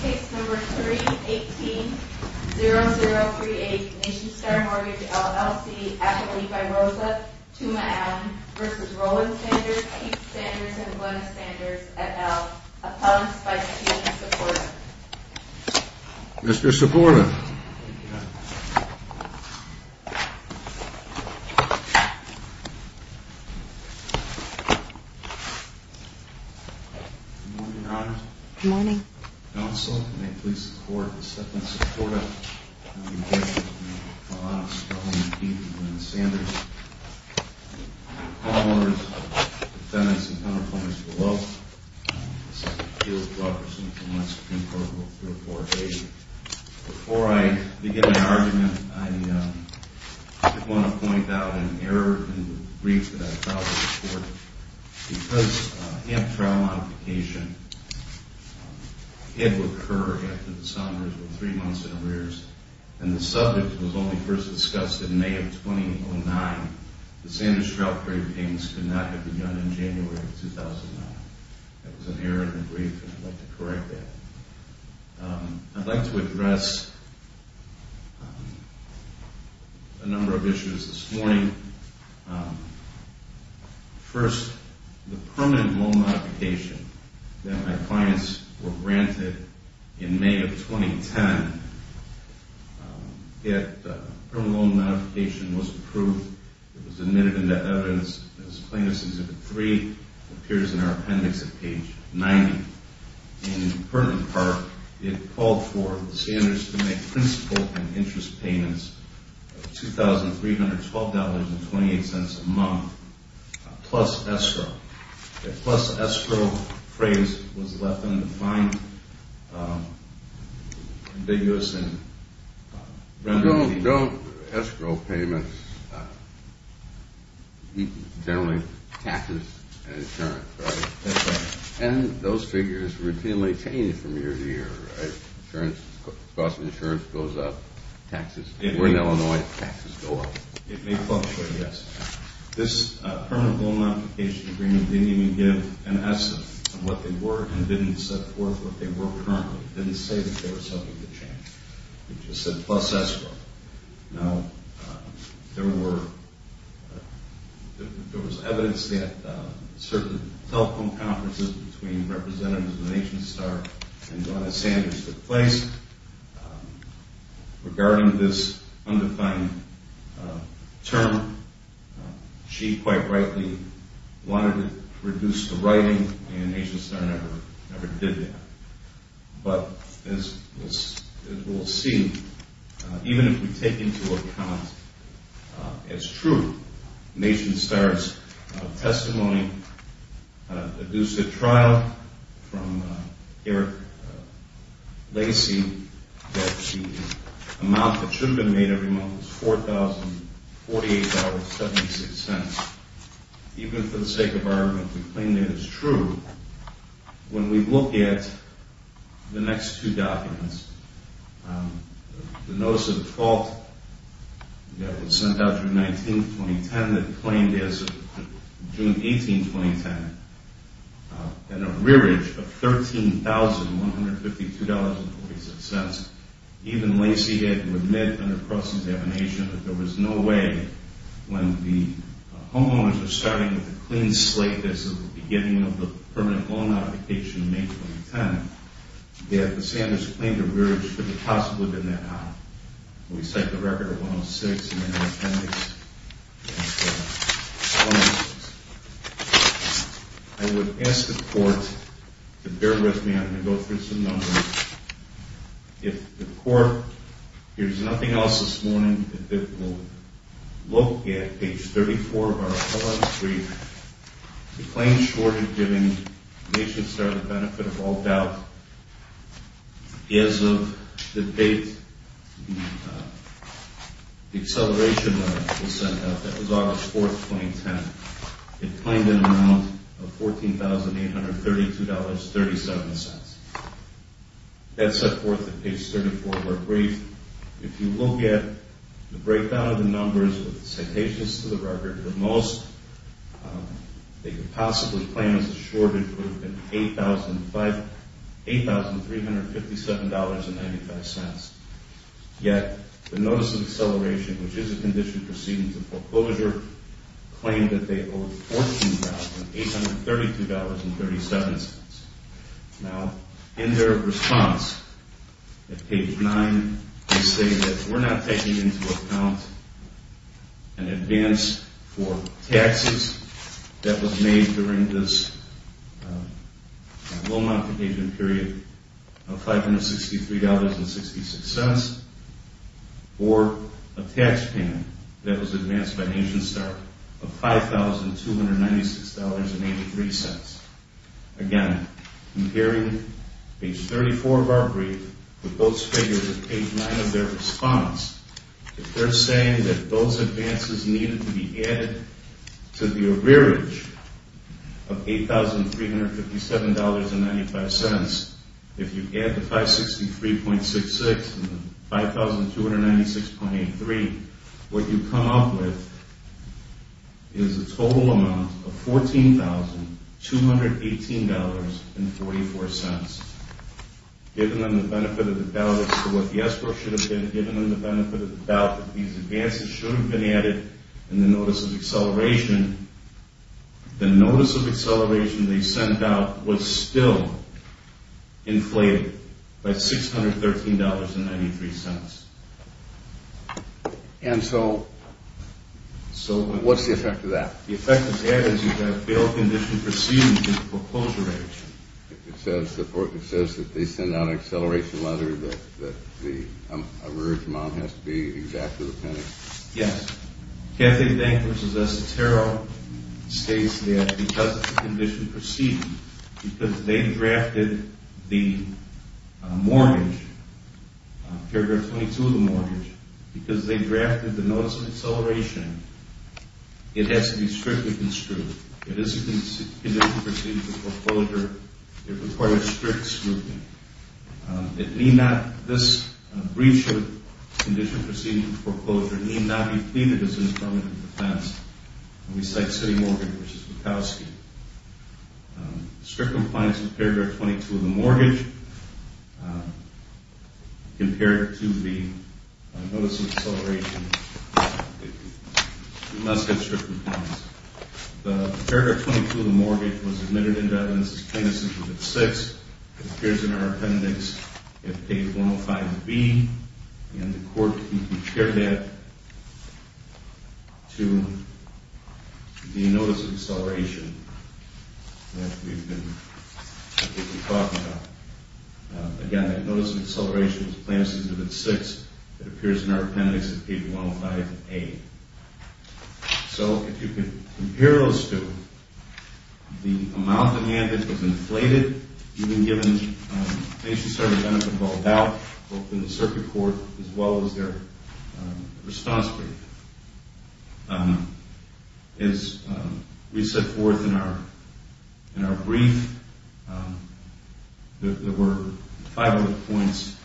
Case No. 3018-0038, Nationstar Mortgage, LLC, affidavit by Rosa Tuma Allen v. Roland Sanders, Keith Sanders, and Glenn Sanders, et al. Appellants by Tina Siporna Mr. Siporna Good morning. Counsel, may it please the Court, Ms. Siporna, Mr. Allen, Mr. Allen, Mr. Keith, and Glenn Sanders, and the court orders, defendants and counterfeiters below, Senator Keith Robertson from the Supreme Court Rule 3048. Before I begin my argument, I did want to point out an error in the brief that I filed to the Court. Because amped trial modification did occur after the Sanders were three months in arrears and the subject was only first discussed in May of 2009, the Sanders trial period payments could not have begun in January of 2009. That was an error in the brief and I'd like to correct that. I'd like to address a number of issues this morning. First, the permanent loan modification that my clients were granted in May of 2010. That permanent loan modification was approved. It was admitted into evidence as plaintiff's exhibit 3. It appears in our appendix at page 90. In pertinent part, it called for the Sanders to make principal and interest payments of $2,312.28 a month, plus escrow. The plus escrow phrase was left undefined. No escrow payments, generally taxes and insurance, right? And those figures routinely change from year to year, right? Cost of insurance goes up, taxes go up. It may fluctuate, yes. This permanent loan modification agreement didn't even give an essence of what they were and didn't set forth what they were currently. It didn't say that there was something to change. It just said plus escrow. Now, there was evidence that certain telephone conferences between representatives of NationStar and Donna Sanders took place. Regarding this undefined term, she quite rightly wanted to reduce the writing and NationStar never did that. But as we'll see, even if we take into account it's true, NationStar's testimony deduced at trial from Eric Lacy that the amount that should have been made every month was $4,048.76. Even for the sake of argument, we claim that it's true. When we look at the next two documents, the notice of default that was sent out June 19, 2010 that claimed as of June 18, 2010, and a rearage of $13,152.46, even Lacy had to admit under cross-examination that there was no way when the homeowners were starting with a clean slate as of the beginning of the permanent loan modification in May 2010, that Sanders claimed a rearage could have possibly been that high. We cite the record of 106 in the attendance. I would ask the court to bear with me. I'm going to go through some numbers. If the court hears nothing else this morning, it will look at page 34 of our LM3 to claim short of giving NationStar the benefit of all doubt, as of the date the acceleration was sent out, that was August 4, 2010. It claimed an amount of $14,832.37. That set forth that page 34 of our brief. If you look at the breakdown of the numbers with the citations to the record, the most they could possibly claim as a shortage would have been $8,357.95. Yet, the notice of acceleration, which is a condition proceeding to foreclosure, claimed that they owed $14,832.37. Now, in their response at page 9, they say that we're not taking into account an advance for taxes that was made during this loan modification period of $563.68. Or a tax payment that was advanced by NationStar of $5,296.83. Again, comparing page 34 of our brief with those figures at page 9 of their response, they're saying that those advances needed to be added to the arrearage of $8,357.95. If you add the $563.66 and the $5,296.83, what you come up with is a total amount of $14,218.44. Given them the benefit of the doubt that these advances should have been added in the notice of acceleration, the notice of acceleration they sent out was still inflated by $613.93. And so, what's the effect of that? The effect of that is you have a failed condition proceeding to foreclosure action. It says that they sent out an acceleration letter that the arrearage amount has to be exactly the penny? Yes. Kathy Dank versus Esotero states that because of the condition proceeding, because they drafted the mortgage, paragraph 22 of the mortgage, because they drafted the notice of acceleration, it has to be strictly construed. If it's a condition proceeding to foreclosure, it requires strict scrutiny. It need not, this breach of condition proceeding to foreclosure need not be pleaded as an instrument of defense. And we cite City Mortgage versus Wachowski. Strict compliance with paragraph 22 of the mortgage compared to the notice of acceleration. It must have strict compliance. The paragraph 22 of the mortgage was admitted into evidence as plaintiff's exhibit 6. It appears in our appendix at page 105B. And the court can compare that to the notice of acceleration that we've been talking about. Again, the notice of acceleration is plaintiff's exhibit 6. It appears in our appendix at page 105A. So, if you can compare those two, the amount of demand that was inflated, even given things to serve as benefit of all doubt, both in the circuit court as well as their response brief. As we set forth in our brief, there were five other points.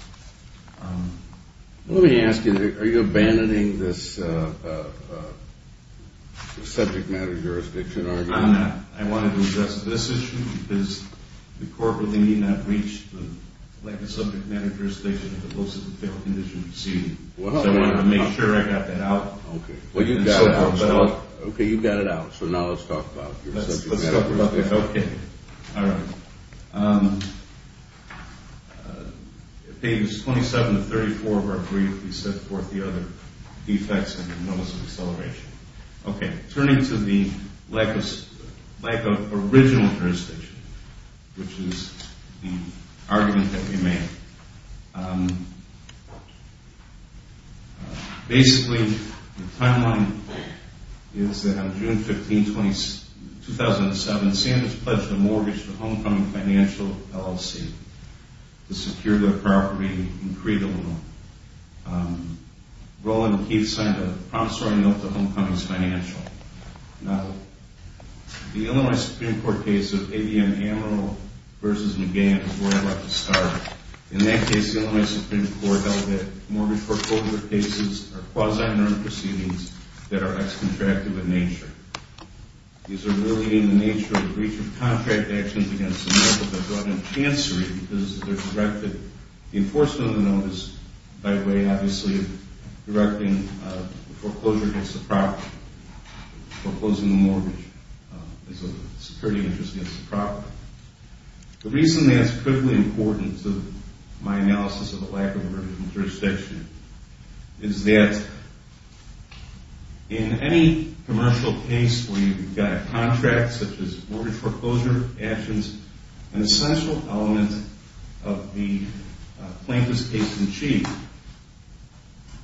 Let me ask you, are you abandoning this subject matter jurisdiction argument? I'm not. I wanted to address this issue because the court really need not reach like a subject matter jurisdiction if it looks as a failed condition proceeding. So, I wanted to make sure I got that out. Okay. Well, you've got it out. Okay, you've got it out. So, now let's talk about your subject matter. Let's talk about that. Okay. All right. Page 27 of 34 of our brief, we set forth the other defects in the notice of acceleration. Okay. Turning to the lack of original jurisdiction, which is the argument that we made. Basically, the timeline is that on June 15, 2007, Sanders pledged a mortgage to Homecoming Financial LLC to secure their property in Crete, Illinois. Roland Keith signed a promissory note to Homecoming Financial. Now, the Illinois Supreme Court case of ABM Amarillo v. McGann is where I'd like to start. In that case, the Illinois Supreme Court held that mortgage foreclosure cases are quasi-inert proceedings that are ex-contractive in nature. These are really in the nature of breach of contract actions against the mortgages of blood and chancery because they're directed, the enforcement of the notice by way, obviously, of directing foreclosure against the property, foreclosing the mortgage. It's a security interest against the property. The reason that's critically important to my analysis of the lack of original jurisdiction is that in any commercial case where you've got a contract, such as mortgage foreclosure actions, an essential element of the plaintiff's case in chief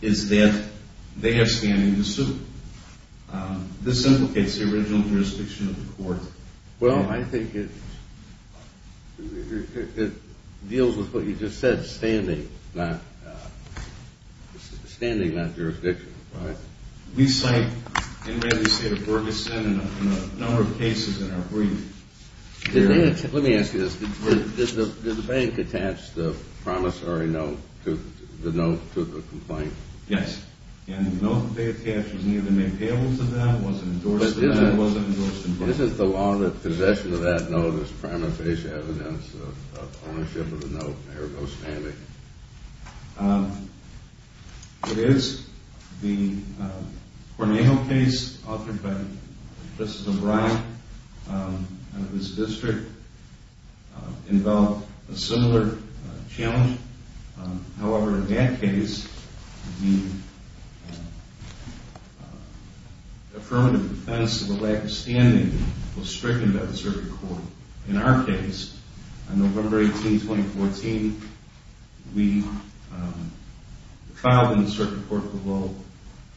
is that they have standing to sue. This implicates the original jurisdiction of the court. Well, I think it deals with what you just said, standing, not jurisdiction. We cite, in the state of Ferguson, a number of cases in our brief. Let me ask you this. Did the bank attach the promissory note to the complaint? Yes. And the note that they attached was neither made payable to them, wasn't endorsed by them, wasn't endorsed in court. Is it the law that possession of that note is prima facie evidence of ownership of the note? There goes Stanley. It is. The Cornado case authored by Mr. O'Brien and his district involved a similar challenge. However, in that case, the affirmative defense of a lack of standing was stricken by the circuit court. In our case, on November 18, 2014, we filed in the circuit court the law,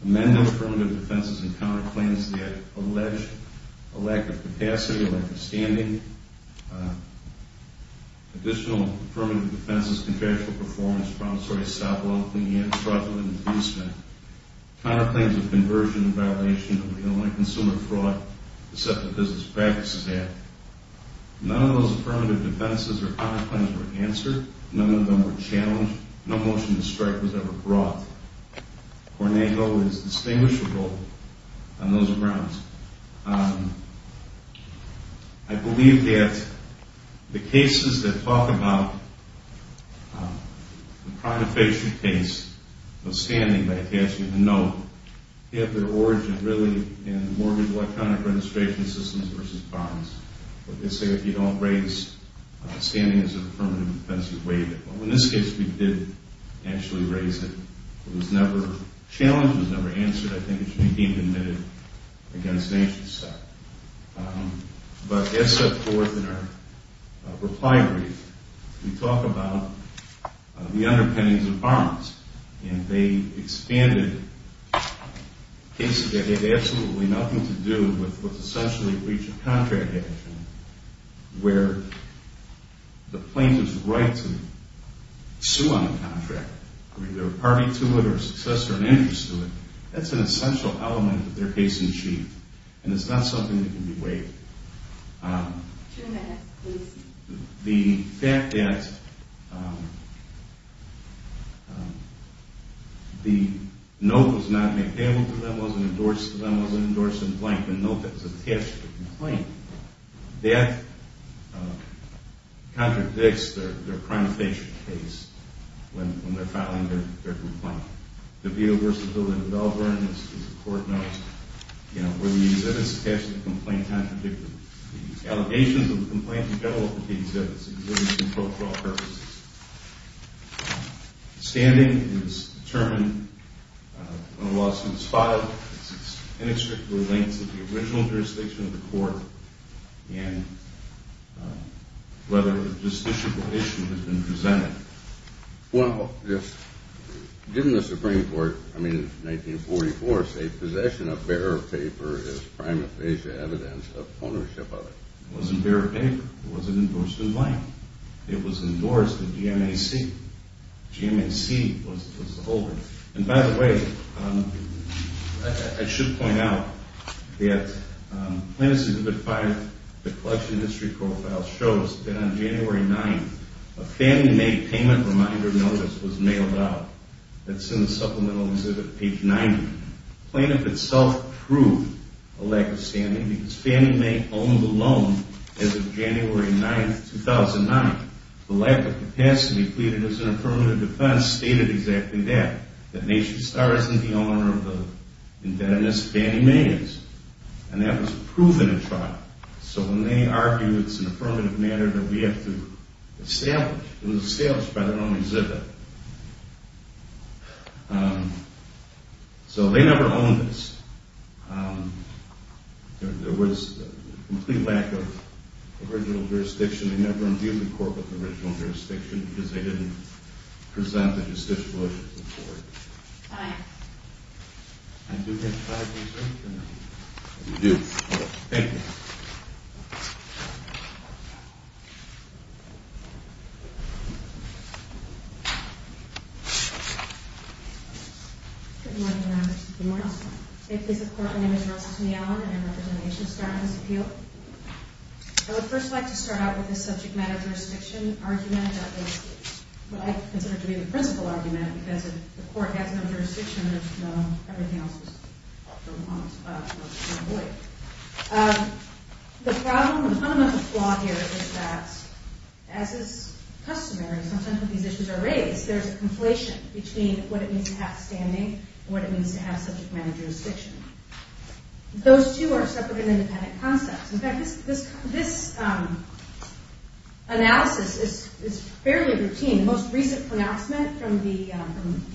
amended affirmative defenses and counterclaims that allege a lack of capacity, a lack of standing. Additional affirmative defenses, contractual performance, promissory stop law, and the end of fraudulent infeasement. Counterclaims of conversion and violation of the Illinois Consumer Fraud Deceptive Business Practices Act. None of those affirmative defenses or counterclaims were answered. None of them were challenged. No motion to strike was ever brought. Cornado is distinguishable on those grounds. I believe that the cases that talk about the prima facie case of standing by attaching a note have their origin really in mortgage electronic registration systems versus bonds. They say if you don't raise standing as an affirmative defense, you waive it. Well, in this case, we did actually raise it. The challenge was never answered. I think it should be deemed admitted against nature's sake. But as set forth in our reply brief, we talk about the underpinnings of bonds, and they expanded cases that had absolutely nothing to do with what's essentially breach of contract action, where the plaintiff's right to sue on the contract, either a party to it or a successor in interest to it, that's an essential element of their case in chief, and it's not something that can be waived. Two minutes, please. The fact that the note was not made available to them, wasn't endorsed to them, wasn't endorsed in plaint, the note that's attached to the complaint, that contradicts their prima facie case when they're filing their complaint. The view of versatility of Melbourne, as the court notes, where the exhibit is attached to the complaint, contradicts the allegations of the complaint in general that the exhibit is in control for all purposes. Standing is determined when a lawsuit is filed. It's inextricably linked to the original jurisdiction of the court and whether a justiciable issue has been presented. Well, given the Supreme Court, I mean, 1944, say possession of bearer of paper is prima facie evidence of ownership of it. It wasn't bearer of paper. It wasn't endorsed in plaint. It was endorsed at GMAC. GMAC was the holder. And by the way, I should point out that Plaintiff's Exhibit 5, the collection history profile, shows that on January 9th, a Fannie Mae payment reminder notice was mailed out. It's in the Supplemental Exhibit, page 90. Plaintiff itself proved a lack of standing because Fannie Mae owned the loan as of January 9th, 2009. The lack of capacity pleaded as an affirmative defense stated exactly that, that Nation Star isn't the owner of the indebtedness of Fannie Mae is. And that was proven in trial. So when they argue it's an affirmative matter that we have to establish, it was established by their own exhibit. So they never owned this. There was a complete lack of original jurisdiction. They never imbued the court with original jurisdiction because they didn't present the justiciable issue to the court. I do have five minutes left. You do? Okay. Thank you. Good morning, Your Honor. Good morning, Your Honor. In the case of court, my name is Rosalyn Allen, and I represent Nation Star on this appeal. I would first like to start out with the subject matter jurisdiction argument that I consider to be the principal argument because if the court has no jurisdiction, there's no, everything else is for want of a lawyer. The problem, the fundamental flaw here is that as is customary, sometimes when these issues are raised, there's a conflation between what it means to have standing and what it means to have subject matter jurisdiction. Those two are separate and independent concepts. In fact, this analysis is fairly routine. The most recent pronouncement from the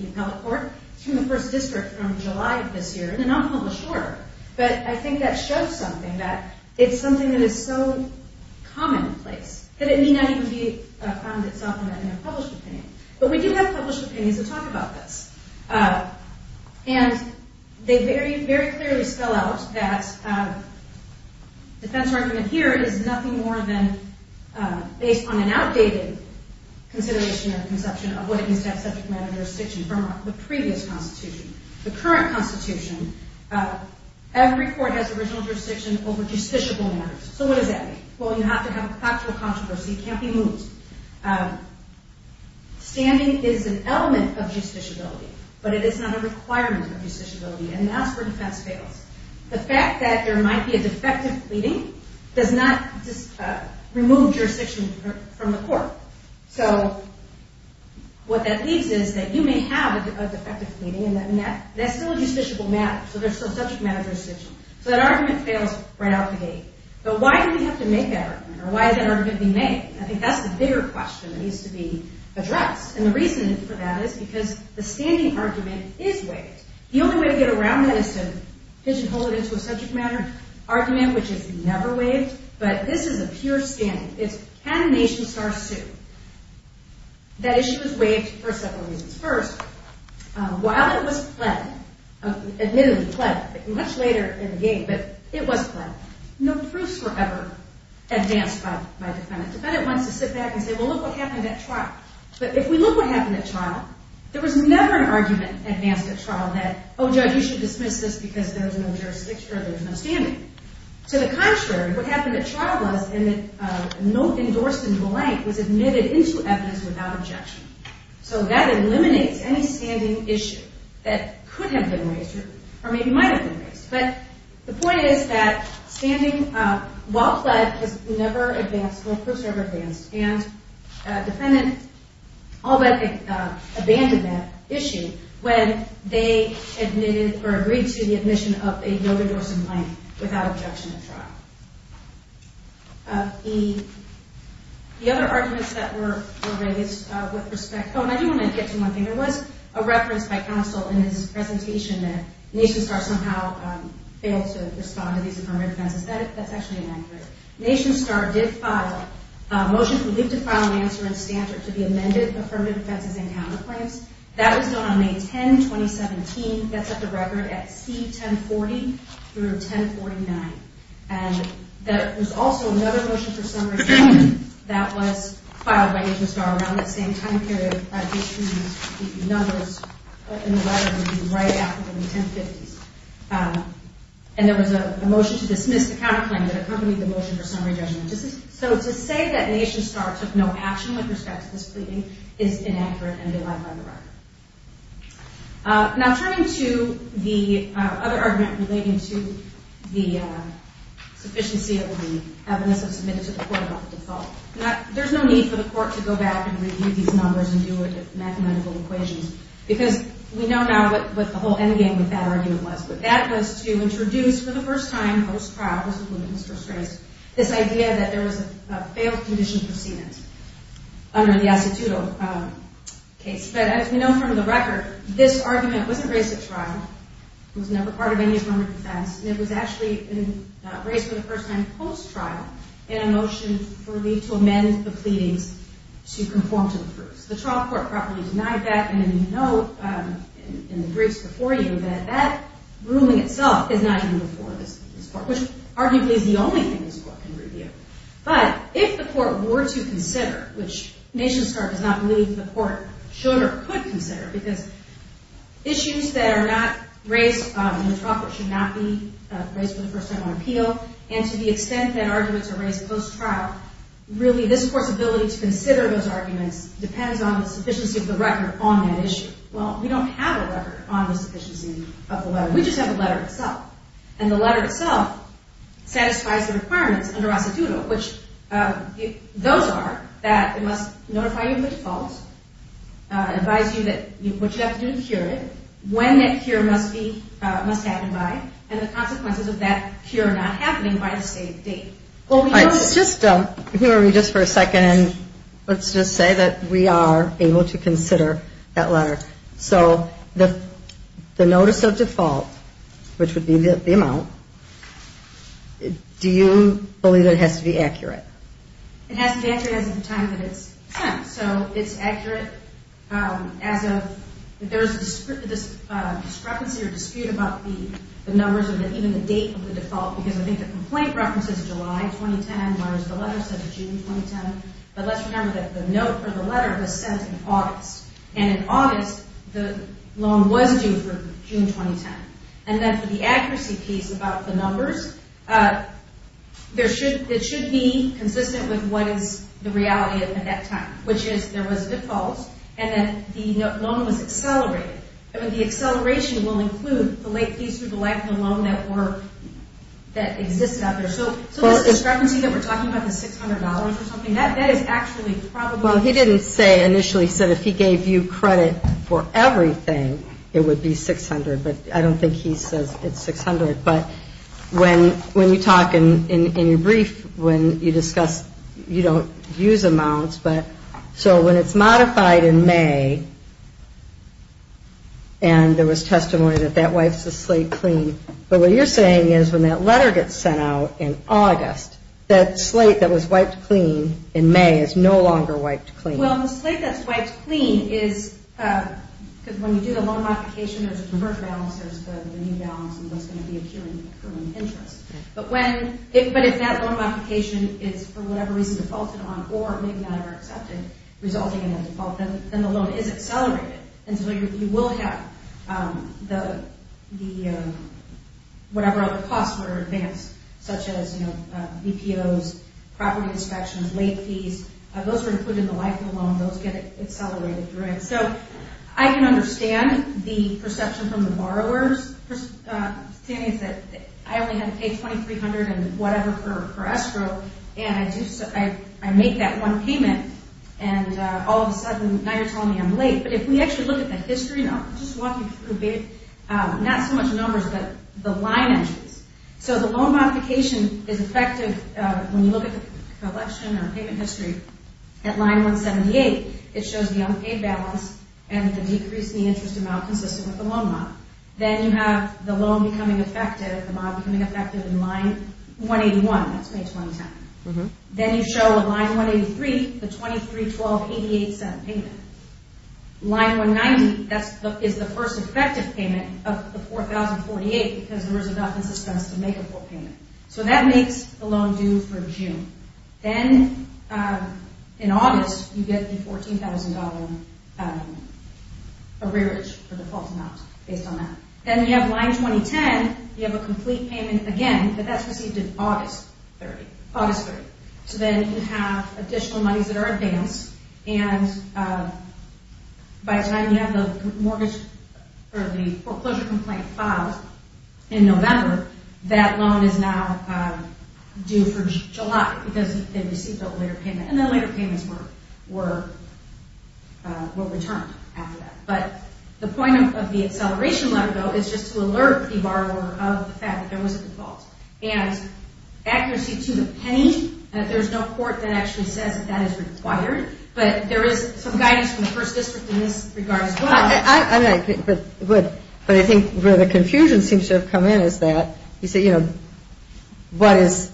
appellate court is from the first district from July of this year in a non-published order. But I think that shows something, that it's something that is so commonplace that it may not even be found itself in a published opinion. But we do have published opinions that talk about this. And they very, very clearly spell out that defense argument here is nothing more than based on an outdated consideration or conception of what it means to have subject matter jurisdiction from the previous Constitution. The current Constitution, every court has original jurisdiction over justiciable matters. So what does that mean? Well, you have to have a factual controversy. It can't be moved. Standing is an element of justiciability, but it is not a requirement of justiciability. And that's where defense fails. The fact that there might be a defective pleading does not remove jurisdiction from the court. So what that leaves is that you may have a defective pleading, and that's still a justiciable matter. So there's still subject matter jurisdiction. So that argument fails right out the gate. But why do we have to make that argument? Or why is that argument being made? I think that's the bigger question that needs to be addressed. And the reason for that is because the standing argument is waived. The only way to get around that is to pigeonhole it into a subject matter argument, which is never waived. But this is a pure standing. It's can a nation start soon? That issue is waived for several reasons. First, while it was pled, admittedly pled, much later in the game, but it was pled, no proofs were ever advanced by defendant. Defendant wants to sit back and say, well, look what happened at trial. But if we look what happened at trial, there was never an argument advanced at trial that, oh, judge, you should dismiss this because there was no jurisdiction or there was no standing. To the contrary, what happened at trial was that no endorsement blank was admitted into evidence without objection. So that eliminates any standing issue that could have been raised or maybe might have been raised. But the point is that standing, while pled, has never advanced, no proofs were ever advanced, and defendant all but abandoned that issue when they admitted or agreed to the admission of a no endorsement blank without objection at trial. The other arguments that were raised with respect, oh, and I do want to get to one thing. There was a reference by counsel in his presentation that Nation Star somehow failed to respond to these affirmative offenses. That's actually inaccurate. Nation Star did file a motion to file an answer in standard to the amended affirmative offenses and counterclaims. That was done on May 10, 2017. That's at the record at C1040 through 1049. And there was also another motion for summary judgment that was filed by Nation Star around that same time period. Excuse me, the numbers in the letter would be right after the 1050s. And there was a motion to dismiss the counterclaim that accompanied the motion for summary judgment. So to say that Nation Star took no action with respect to this pleading is inaccurate and belied by the record. Now turning to the other argument relating to the sufficiency of the evidence that was submitted to the court about the default. There's no need for the court to go back and review these numbers and do mathematical equations, because we know now what the whole endgame with that argument was. But that was to introduce for the first time post-trial, this was when it was first raised, this idea that there was a failed condition for senate under the Asituto case. But as we know from the record, this argument wasn't raised at trial. It was never part of any form of defense. And it was actually raised for the first time post-trial in a motion to amend the pleadings to conform to the proofs. The trial court properly denied that. And you know in the briefs before you that that ruling itself is not even before this court, which arguably is the only thing this court can review. But if the court were to consider, which NationStar does not believe the court should or could consider, because issues that are not raised in the trial court should not be raised for the first time on appeal, and to the extent that arguments are raised post-trial, really this court's ability to consider those arguments depends on the sufficiency of the record on that issue. Well, we don't have a record on the sufficiency of the letter. We just have the letter itself. And the letter itself satisfies the requirements under Asituto, which those are that it must notify you of the default, advise you what you have to do to cure it, when that cure must happen by, and the consequences of that cure not happening by the same date. All right. Just hear me just for a second, and let's just say that we are able to consider that letter. So the notice of default, which would be the amount, do you believe that it has to be accurate? It has to be accurate as of the time that it's sent. So it's accurate as of there's a discrepancy or dispute about the numbers or even the date of the default, because I think the complaint references July 2010, whereas the letter says June 2010. But let's remember that the note or the letter was sent in August. And in August, the loan was due for June 2010. And then for the accuracy piece about the numbers, it should be consistent with what is the reality at that time, which is there was defaults, and then the loan was accelerated. The acceleration will include the late fees through the length of the loan that existed out there. So the discrepancy that we're talking about, the $600 or something, that is actually probably – Well, he didn't say initially, he said if he gave you credit for everything, it would be $600. But I don't think he says it's $600. But when you talk in your brief, when you discuss, you don't use amounts. So when it's modified in May, and there was testimony that that wipes the slate clean. But what you're saying is when that letter gets sent out in August, that slate that was wiped clean in May is no longer wiped clean. Well, the slate that's wiped clean is – because when you do the loan modification, there's a conversion balance, there's the new balance, and what's going to be accruing interest. But when – but if that loan modification is for whatever reason defaulted on, or maybe not ever accepted, resulting in a default, then the loan is accelerated. And so you will have the – whatever other costs were advanced, such as, you know, VPOs, property inspections, late fees, those are included in the life of the loan. Those get accelerated. So I can understand the perception from the borrowers, that I only had to pay $2,300 and whatever for escrow, and I make that one payment, and all of a sudden now you're telling me I'm late. But if we actually look at the history, and I'll just walk you through a bit. Not so much numbers, but the line entries. So the loan modification is effective when you look at the collection or payment history. At line 178, it shows the unpaid balance and the decrease in the interest amount consistent with the loan model. Then you have the loan becoming effective, the model becoming effective in line 181. That's May 2010. Then you show line 183, the 23,12,88 payment. Line 190 is the first effective payment of the 4,048, because there is enough in suspense to make a full payment. So that makes the loan due for June. Then in August, you get the $14,000 arrearage for default amounts, based on that. Then you have line 2010, you have a complete payment again, but that's received in August 30. So then you have additional monies that are advanced, and by the time you have the foreclosure complaint filed in November, that loan is now due for July, because they received a later payment. And then later payments were returned after that. But the point of the acceleration letter, though, is just to alert the borrower of the fact that there was a default. And accuracy to the penny, there's no court that actually says that that is required, but there is some guidance from the First District in this regard as well. But I think where the confusion seems to have come in is that, you say, you know, what is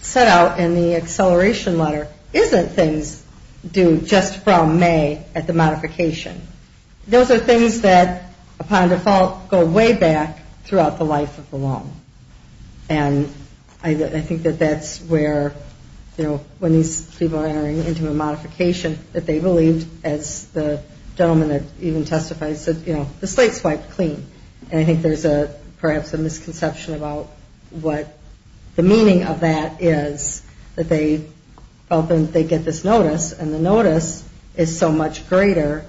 set out in the acceleration letter isn't things due just from May at the modification. Those are things that, upon default, go way back throughout the life of the loan. And I think that that's where, you know, when these people are entering into a modification, that they believed, as the gentleman that even testified said, you know, the slate's wiped clean. And I think there's perhaps a misconception about what the meaning of that is, that they get this notice, and the notice is so much greater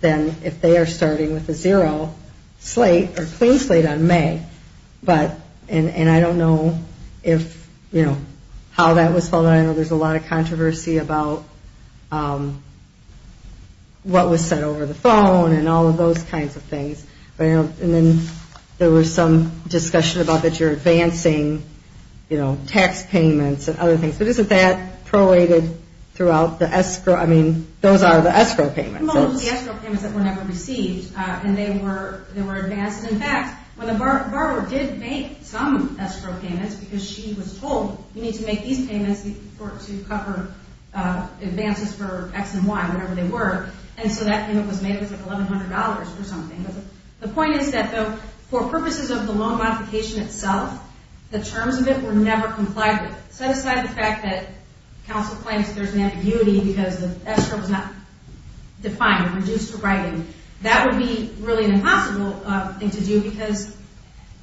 than if they are starting with a zero slate or clean slate on May. And I don't know if, you know, how that was followed. I know there's a lot of controversy about what was said over the phone and all of those kinds of things. And then there was some discussion about that you're advancing, you know, S payments and other things. But isn't that prorated throughout the escrow? I mean, those are the escrow payments. Well, those were the escrow payments that were never received, and they were advanced. In fact, when the borrower did make some escrow payments, because she was told, you need to make these payments to cover advances for X and Y, whatever they were. And so that payment was made, it was like $1,100 or something. The point is that, though, for purposes of the loan modification itself, the terms of it were never complied with. Set aside the fact that counsel claims there's an ambiguity because the escrow was not defined or reduced to writing. That would be really an impossible thing to do because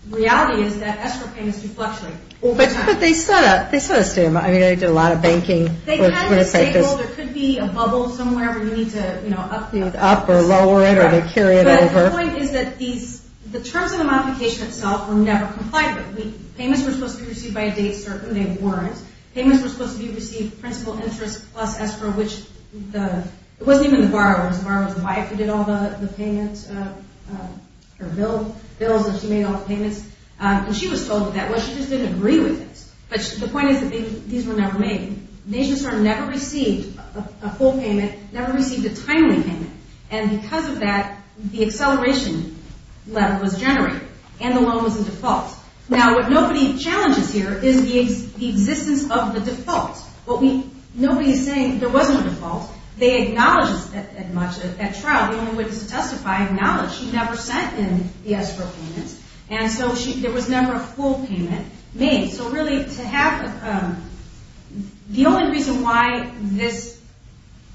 the reality is that escrow payments do fluctuate. But they set a standard. I mean, they did a lot of banking. They kind of say, well, there could be a bubble somewhere where you need to, you know, up the escrow. Up or lower it, or they carry it over. But the point is that the terms of the modification itself were never complied with. Payments were supposed to be received by a date certain. They weren't. Payments were supposed to be received principal interest plus escrow, which it wasn't even the borrower. It was the borrower's wife who did all the payments or bills. She made all the payments. And she was told what that was. She just didn't agree with this. But the point is that these were never made. NationStar never received a full payment, never received a timely payment. And because of that, the acceleration level was generated. And the loan was in default. Now, what nobody challenges here is the existence of the default. Nobody is saying there wasn't a default. They acknowledged as much at trial. The only witness to testify acknowledged she never sent in the escrow payments. And so there was never a full payment made. So really, to have the only reason why this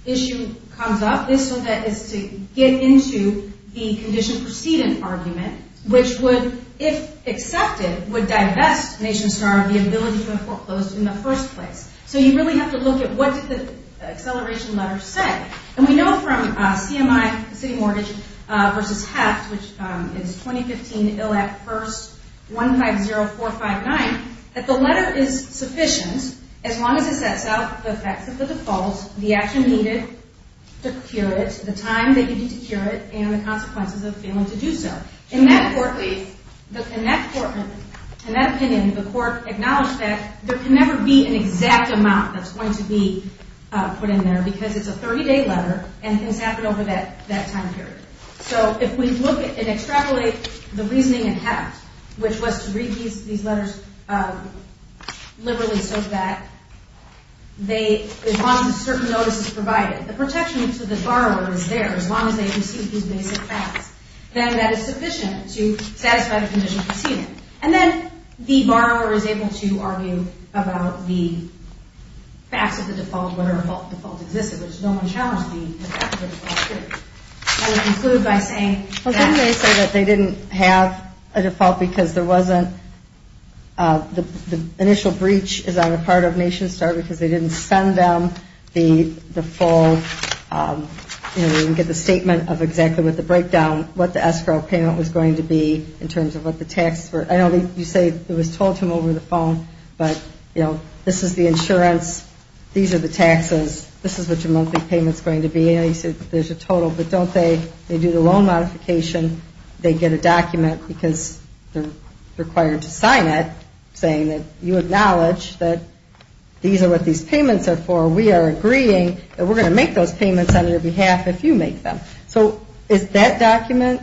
issue comes up is so that it's to get into the condition-precedent argument, which would, if accepted, would divest NationStar of the ability to have foreclosed in the first place. So you really have to look at what did the acceleration letter say. And we know from CMI, the City Mortgage v. Haft, which is 2015, Ill Act, 1st, 150459, that the letter is sufficient as long as it sets out the facts of the default, the action needed to cure it, the time they needed to cure it, and the consequences of failing to do so. In that court, in that opinion, the court acknowledged that there can never be an exact amount that's going to be put in there because it's a 30-day letter and things happen over that time period. So if we look and extrapolate the reasoning in Haft, which was to read these letters liberally so that there's lots of certain notices provided, the protection to the borrower is there as long as they receive these basic facts. Then that is sufficient to satisfy the condition-precedent. And then the borrower is able to argue about the facts of the default, whatever default existed, which no one challenged the fact of the default period. I would conclude by saying that they didn't have a default because there wasn't the initial breach is on the part of NationStar because they didn't send them the default. They didn't get the statement of exactly what the breakdown, what the escrow payment was going to be in terms of what the taxes were. I know you say it was told to them over the phone, but this is the insurance, these are the taxes, this is what your monthly payment is going to be. There's a total, but don't they do the loan modification, they get a document because they're required to sign it saying that you know what these payments are for, we are agreeing that we're going to make those payments on your behalf if you make them. So is that document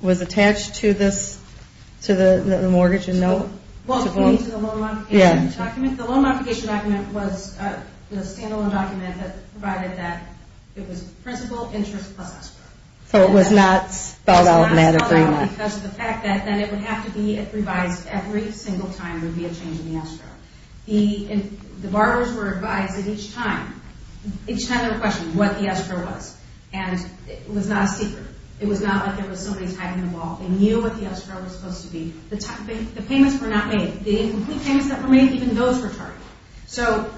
was attached to the mortgage in note? Well, you mean to the loan modification document? Yeah. The loan modification document was the standalone document that provided that it was principal, interest, plus escrow. So it was not spelled out in that agreement. It was not spelled out because of the fact that then it would have to be revised every single time there would be a change in the escrow. The borrowers were advised that each time, each time they were questioned what the escrow was, and it was not a secret. It was not like there was somebody tagging the ball. They knew what the escrow was supposed to be. The payments were not made. The incomplete payments that were made, even those were targeted. So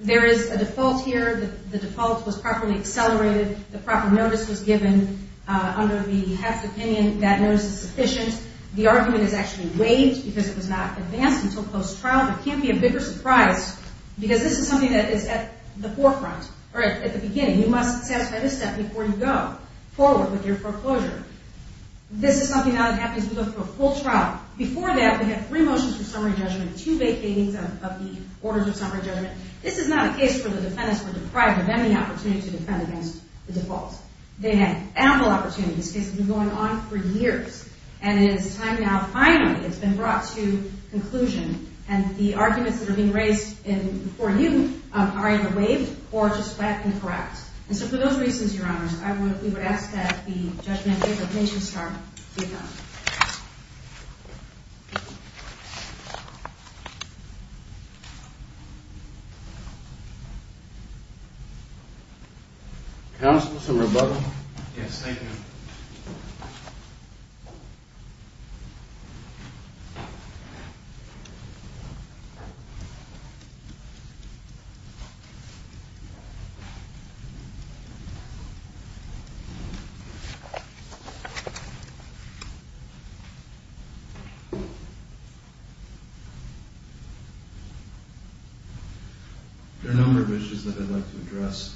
there is a default here. The default was properly accelerated. The proper notice was given under the heft opinion that notice is sufficient. The argument is actually waived because it was not advanced until post-trial, but it can't be a bigger surprise because this is something that is at the forefront or at the beginning. You must satisfy this step before you go forward with your foreclosure. This is something now that happens when you go through a full trial. Before that, we had three motions for summary judgment, two vacatings of the orders of summary judgment. This is not a case where the defendants were deprived of any opportunity to defend against the default. They had ample opportunity. This case has been going on for years, and it is time now, finally, it's been brought to conclusion. And the arguments that are being raised before you are either waived or just flat and correct. And so for those reasons, Your Honors, I would ask that the judgment of Nation Star be done. Yes, thank you. Thank you. There are a number of issues that I'd like to address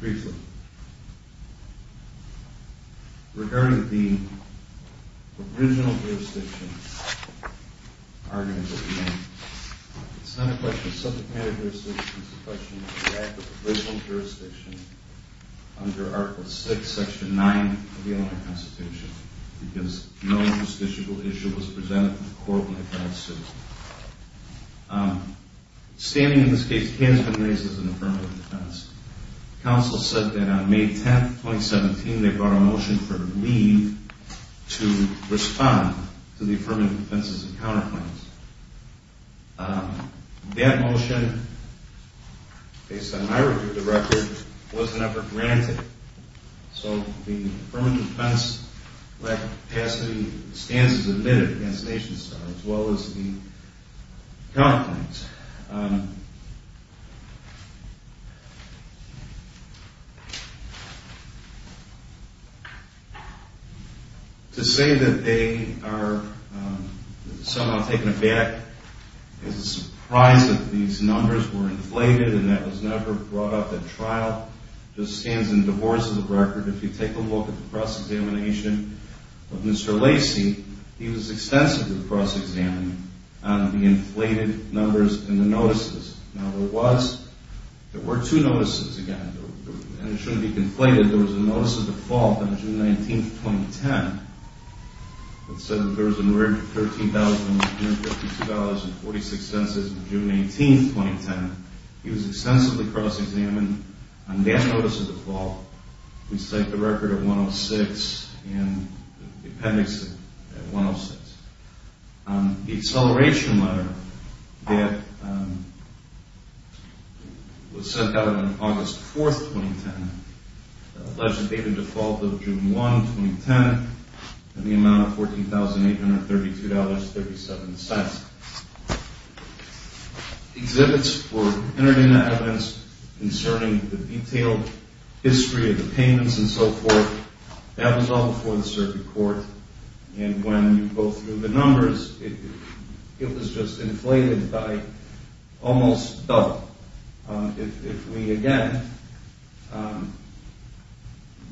briefly. Regarding the original jurisdiction argument that we made, it's not a question of subject matter jurisdiction. It's a question of the act of the original jurisdiction under Article VI, Section 9 of the Illinois Constitution because no justiciable issue was presented in the court like that of civil. Standing in this case, Kansman raises an affirmative defense. Counsel said that on May 10, 2017, they brought a motion for leave to respond to the affirmative defenses and counterclaims. That motion, based on my review of the record, wasn't ever granted. So the affirmative defense lack of capacity stands as admitted against Nation Star as well as the counterclaims. To say that they are somehow taken aback is a surprise that these numbers were inflated and that was never brought up at trial just stands in divorce of the record. If you take a look at the cross-examination of Mr. Lacey, he was extensively cross-examined on the inflated numbers in the notices. Now, there were two notices, again, and it shouldn't be conflated. There was a notice of default on June 19, 2010 that said that there was a $13,152.46 census on June 18, 2010. He was extensively cross-examined on that notice of default. We cite the record at 106 and the appendix at 106. The acceleration letter that was sent out on August 4, 2010, alleged date of default of June 1, 2010, and the amount of $14,832.37. Exhibits were entered into evidence concerning the detailed history of the payments and so forth. That was all before the circuit court, and when you go through the numbers, it was just inflated by almost double. If we, again,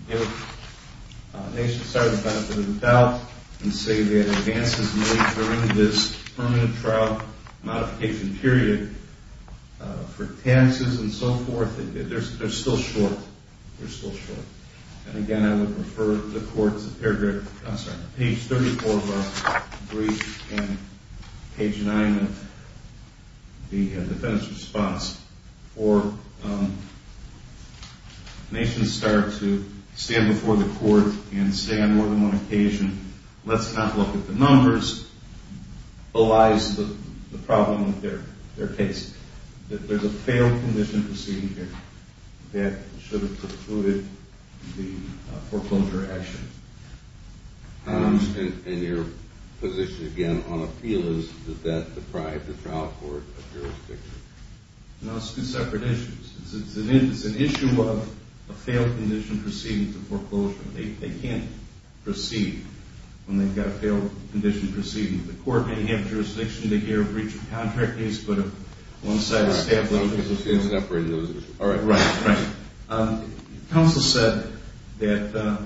give Nation Star the benefit of the doubt and say that advances made during this permanent trial modification period for taxes and so forth, they're still short. They're still short. And again, I would refer the courts to page 34 of our brief and page 9 of the defense response for Nation Star to stand before the court and say on more than one occasion, let's not look at the numbers, belies the problem with their case, that there's a failed condition proceeding here that should have precluded the foreclosure action. And your position, again, on appeal is, does that deprive the trial court of jurisdiction? No, it's two separate issues. It's an issue of a failed condition proceeding for foreclosure. They can't proceed when they've got a failed condition proceeding. The court may have jurisdiction to hear a breach of contract case, but if one side of the staff doesn't... All right. Right, right. Counsel said that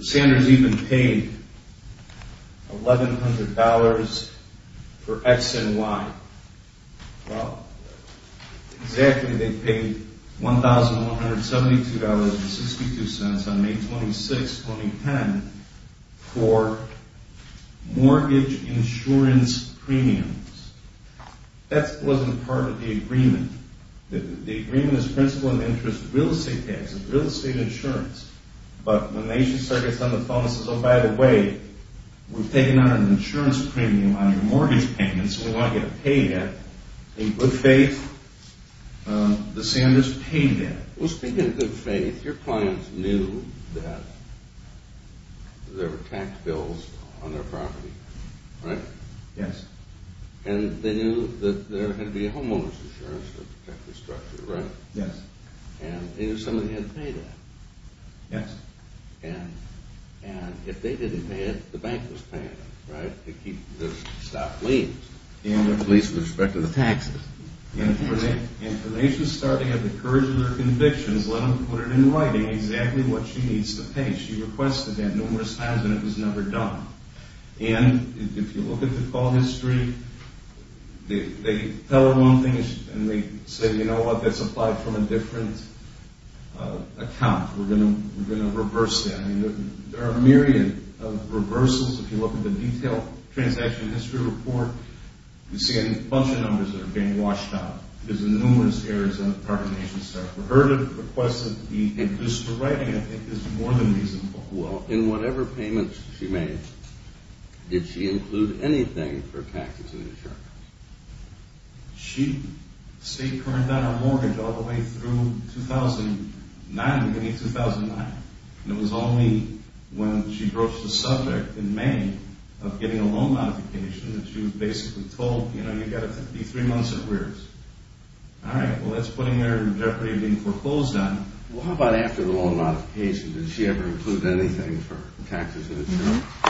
Sanders even paid $1,100 for X and Y. Well, exactly. They paid $1,172.62 on May 26, 2010 for mortgage insurance premiums. That wasn't part of the agreement. The agreement is principal and interest real estate taxes, real estate insurance. But when Nation Star gets on the phone and says, oh, by the way, we've taken out an insurance premium on your mortgage payments and we want you to pay that, in good faith, the Sanders paid that. Well, speaking of good faith, your clients knew that there were tax bills on their property, right? Yes. And they knew that there had to be a homeowner's insurance to protect the structure, right? Yes. And they knew somebody had to pay that. Yes. And if they didn't pay it, the bank was paying it, right, to keep the stock leased. Leased with respect to the taxes. And for Nation Star to have the courage of their convictions, let them put it in writing exactly what she needs to pay. She requested that numerous times and it was never done. And if you look at the call history, they tell her one thing and they say, you know what, that's applied from a different account. We're going to reverse that. I mean, there are a myriad of reversals. If you look at the detailed transaction history report, you see a bunch of numbers that are being washed out. There's numerous errors on the property of Nation Star. For her to request it just for writing, I think, is more than reasonable. Well, in whatever payments she made, did she include anything for taxes and insurance? She stayed current on her mortgage all the way through 2009, beginning of 2009. And it was only when she broached the subject in May of getting a loan modification that she was basically told, you know, you've got to be three months or worse. All right, well, that's putting her in jeopardy of being foreclosed on. Well, how about after the loan modification? Did she ever include anything for taxes and insurance? No.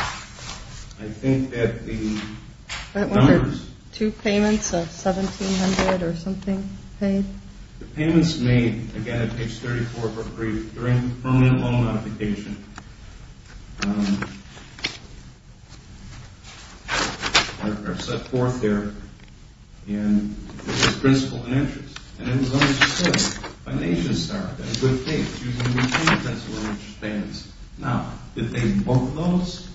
I think that the numbers— Two payments of $1,700 or something paid. The payments made, again, at page 34 of her brief, during the permanent loan modification, are set forth there as principal and interest. And it was only to say, by Nation Star, that's a good thing. She was going to be paying principal and interest payments. Now, did they book those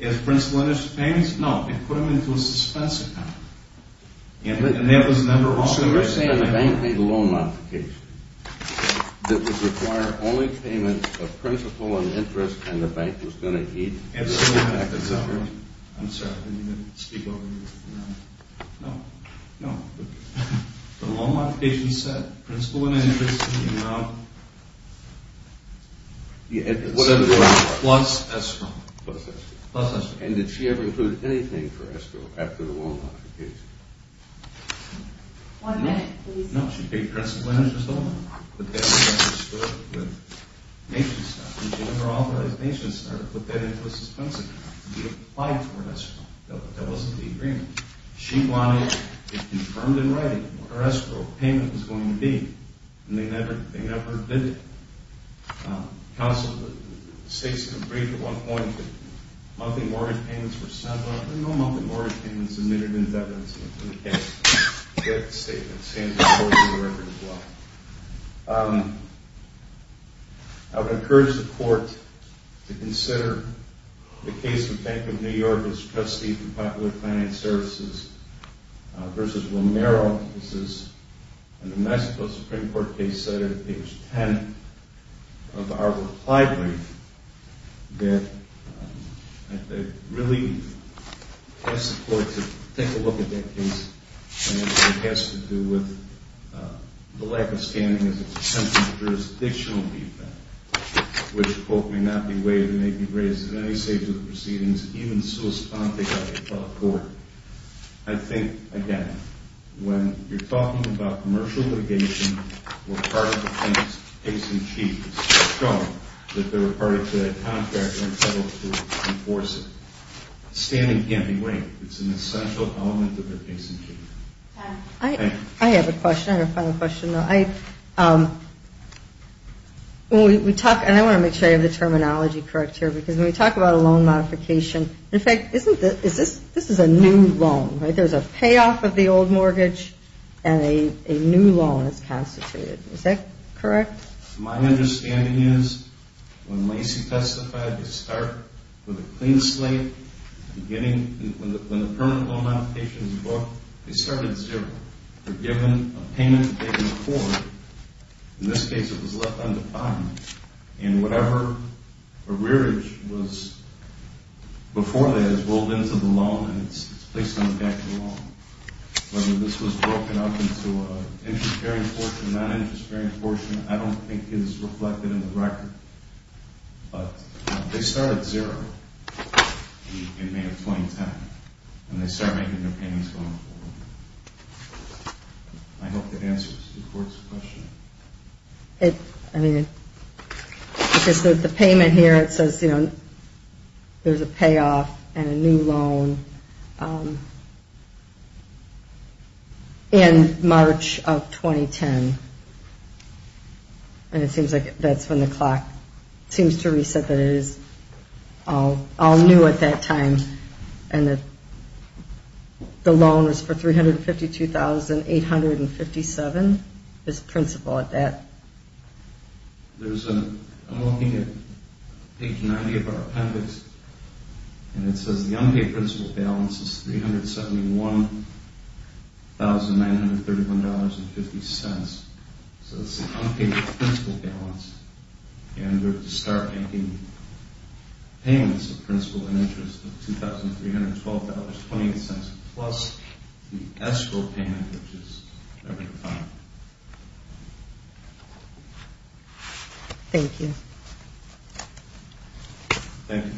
as principal and interest payments? No. They put them into a suspense account. And that was number one. So you're saying the bank made a loan modification that would require only payments of principal and interest, and the bank was going to keep— Absolutely. I'm sorry, I didn't mean to speak over you. No. No. The loan modification said principal and interest, you know, plus escrow. Plus escrow. Plus escrow. And did she ever include anything for escrow after the loan modification? One minute, please. No, she paid principal and interest only. But that's what she said with Nation Star. And she never authorized Nation Star to put that into a suspense account to be applied for escrow. That wasn't the agreement. She wanted it confirmed in writing what her escrow payment was going to be, and they never did that. Counsel, the state's been briefed at one point that monthly mortgage payments were settled. There were no monthly mortgage payments admitted into evidence in the case. We have a statement saying that's part of the record as well. I would encourage the court to consider the case of Bank of New York as trustee for Popular Finance Services versus Romero. This is a New Mexico Supreme Court case cited at page 10 of our reply brief that really asks the court to take a look at that case, and it has to do with the lack of standing as an attempted jurisdictional defect, which, quote, may not be waived and may be raised at any stage of the proceedings, even so as to not take out a federal court. I think, again, when you're talking about commercial litigation, we're part of the case in chief. It's been shown that they were part of the contract and were entitled to enforce it. Standing can't be waived. It's an essential element of their case in chief. Thank you. I have a question. I have a final question. When we talk, and I want to make sure I have the terminology correct here, because when we talk about a loan modification, in fact, this is a new loan, right? There's a payoff of the old mortgage and a new loan is constituted. Is that correct? My understanding is when Lacey testified, they start with a clean slate at the beginning. When the permanent loan modification was brought, they started at zero. They're given a payment and taken it forward. In this case, it was left undefined. And whatever arrearage was before that is rolled into the loan and it's placed on the back of the loan. Whether this was broken up into an interest-bearing portion or a non-interest-bearing portion, I don't think is reflected in the record. But they start at zero in May of 2010, and they start making their payments going forward. I hope that answers the court's question. I mean, because the payment here, it says, you know, there's a payoff and a new loan in March of 2010. And it seems like that's when the clock seems to reset that it is all new at that time and that the loan is for $352,857 as principal at that. I'm looking at page 90 of our appendix, and it says the unpaid principal balance is $371,931.50. So it's the unpaid principal balance. And we're to start making payments of principal and interest of $2,312.28 plus the escrow payment, which is $1,005. Thank you. Thank you. Thank you.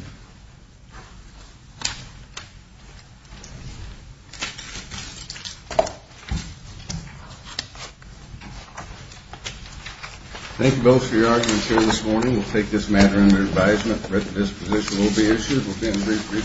Thank you both for your arguments here this morning. We'll take this matter under advisement. The rest of this position will be issued.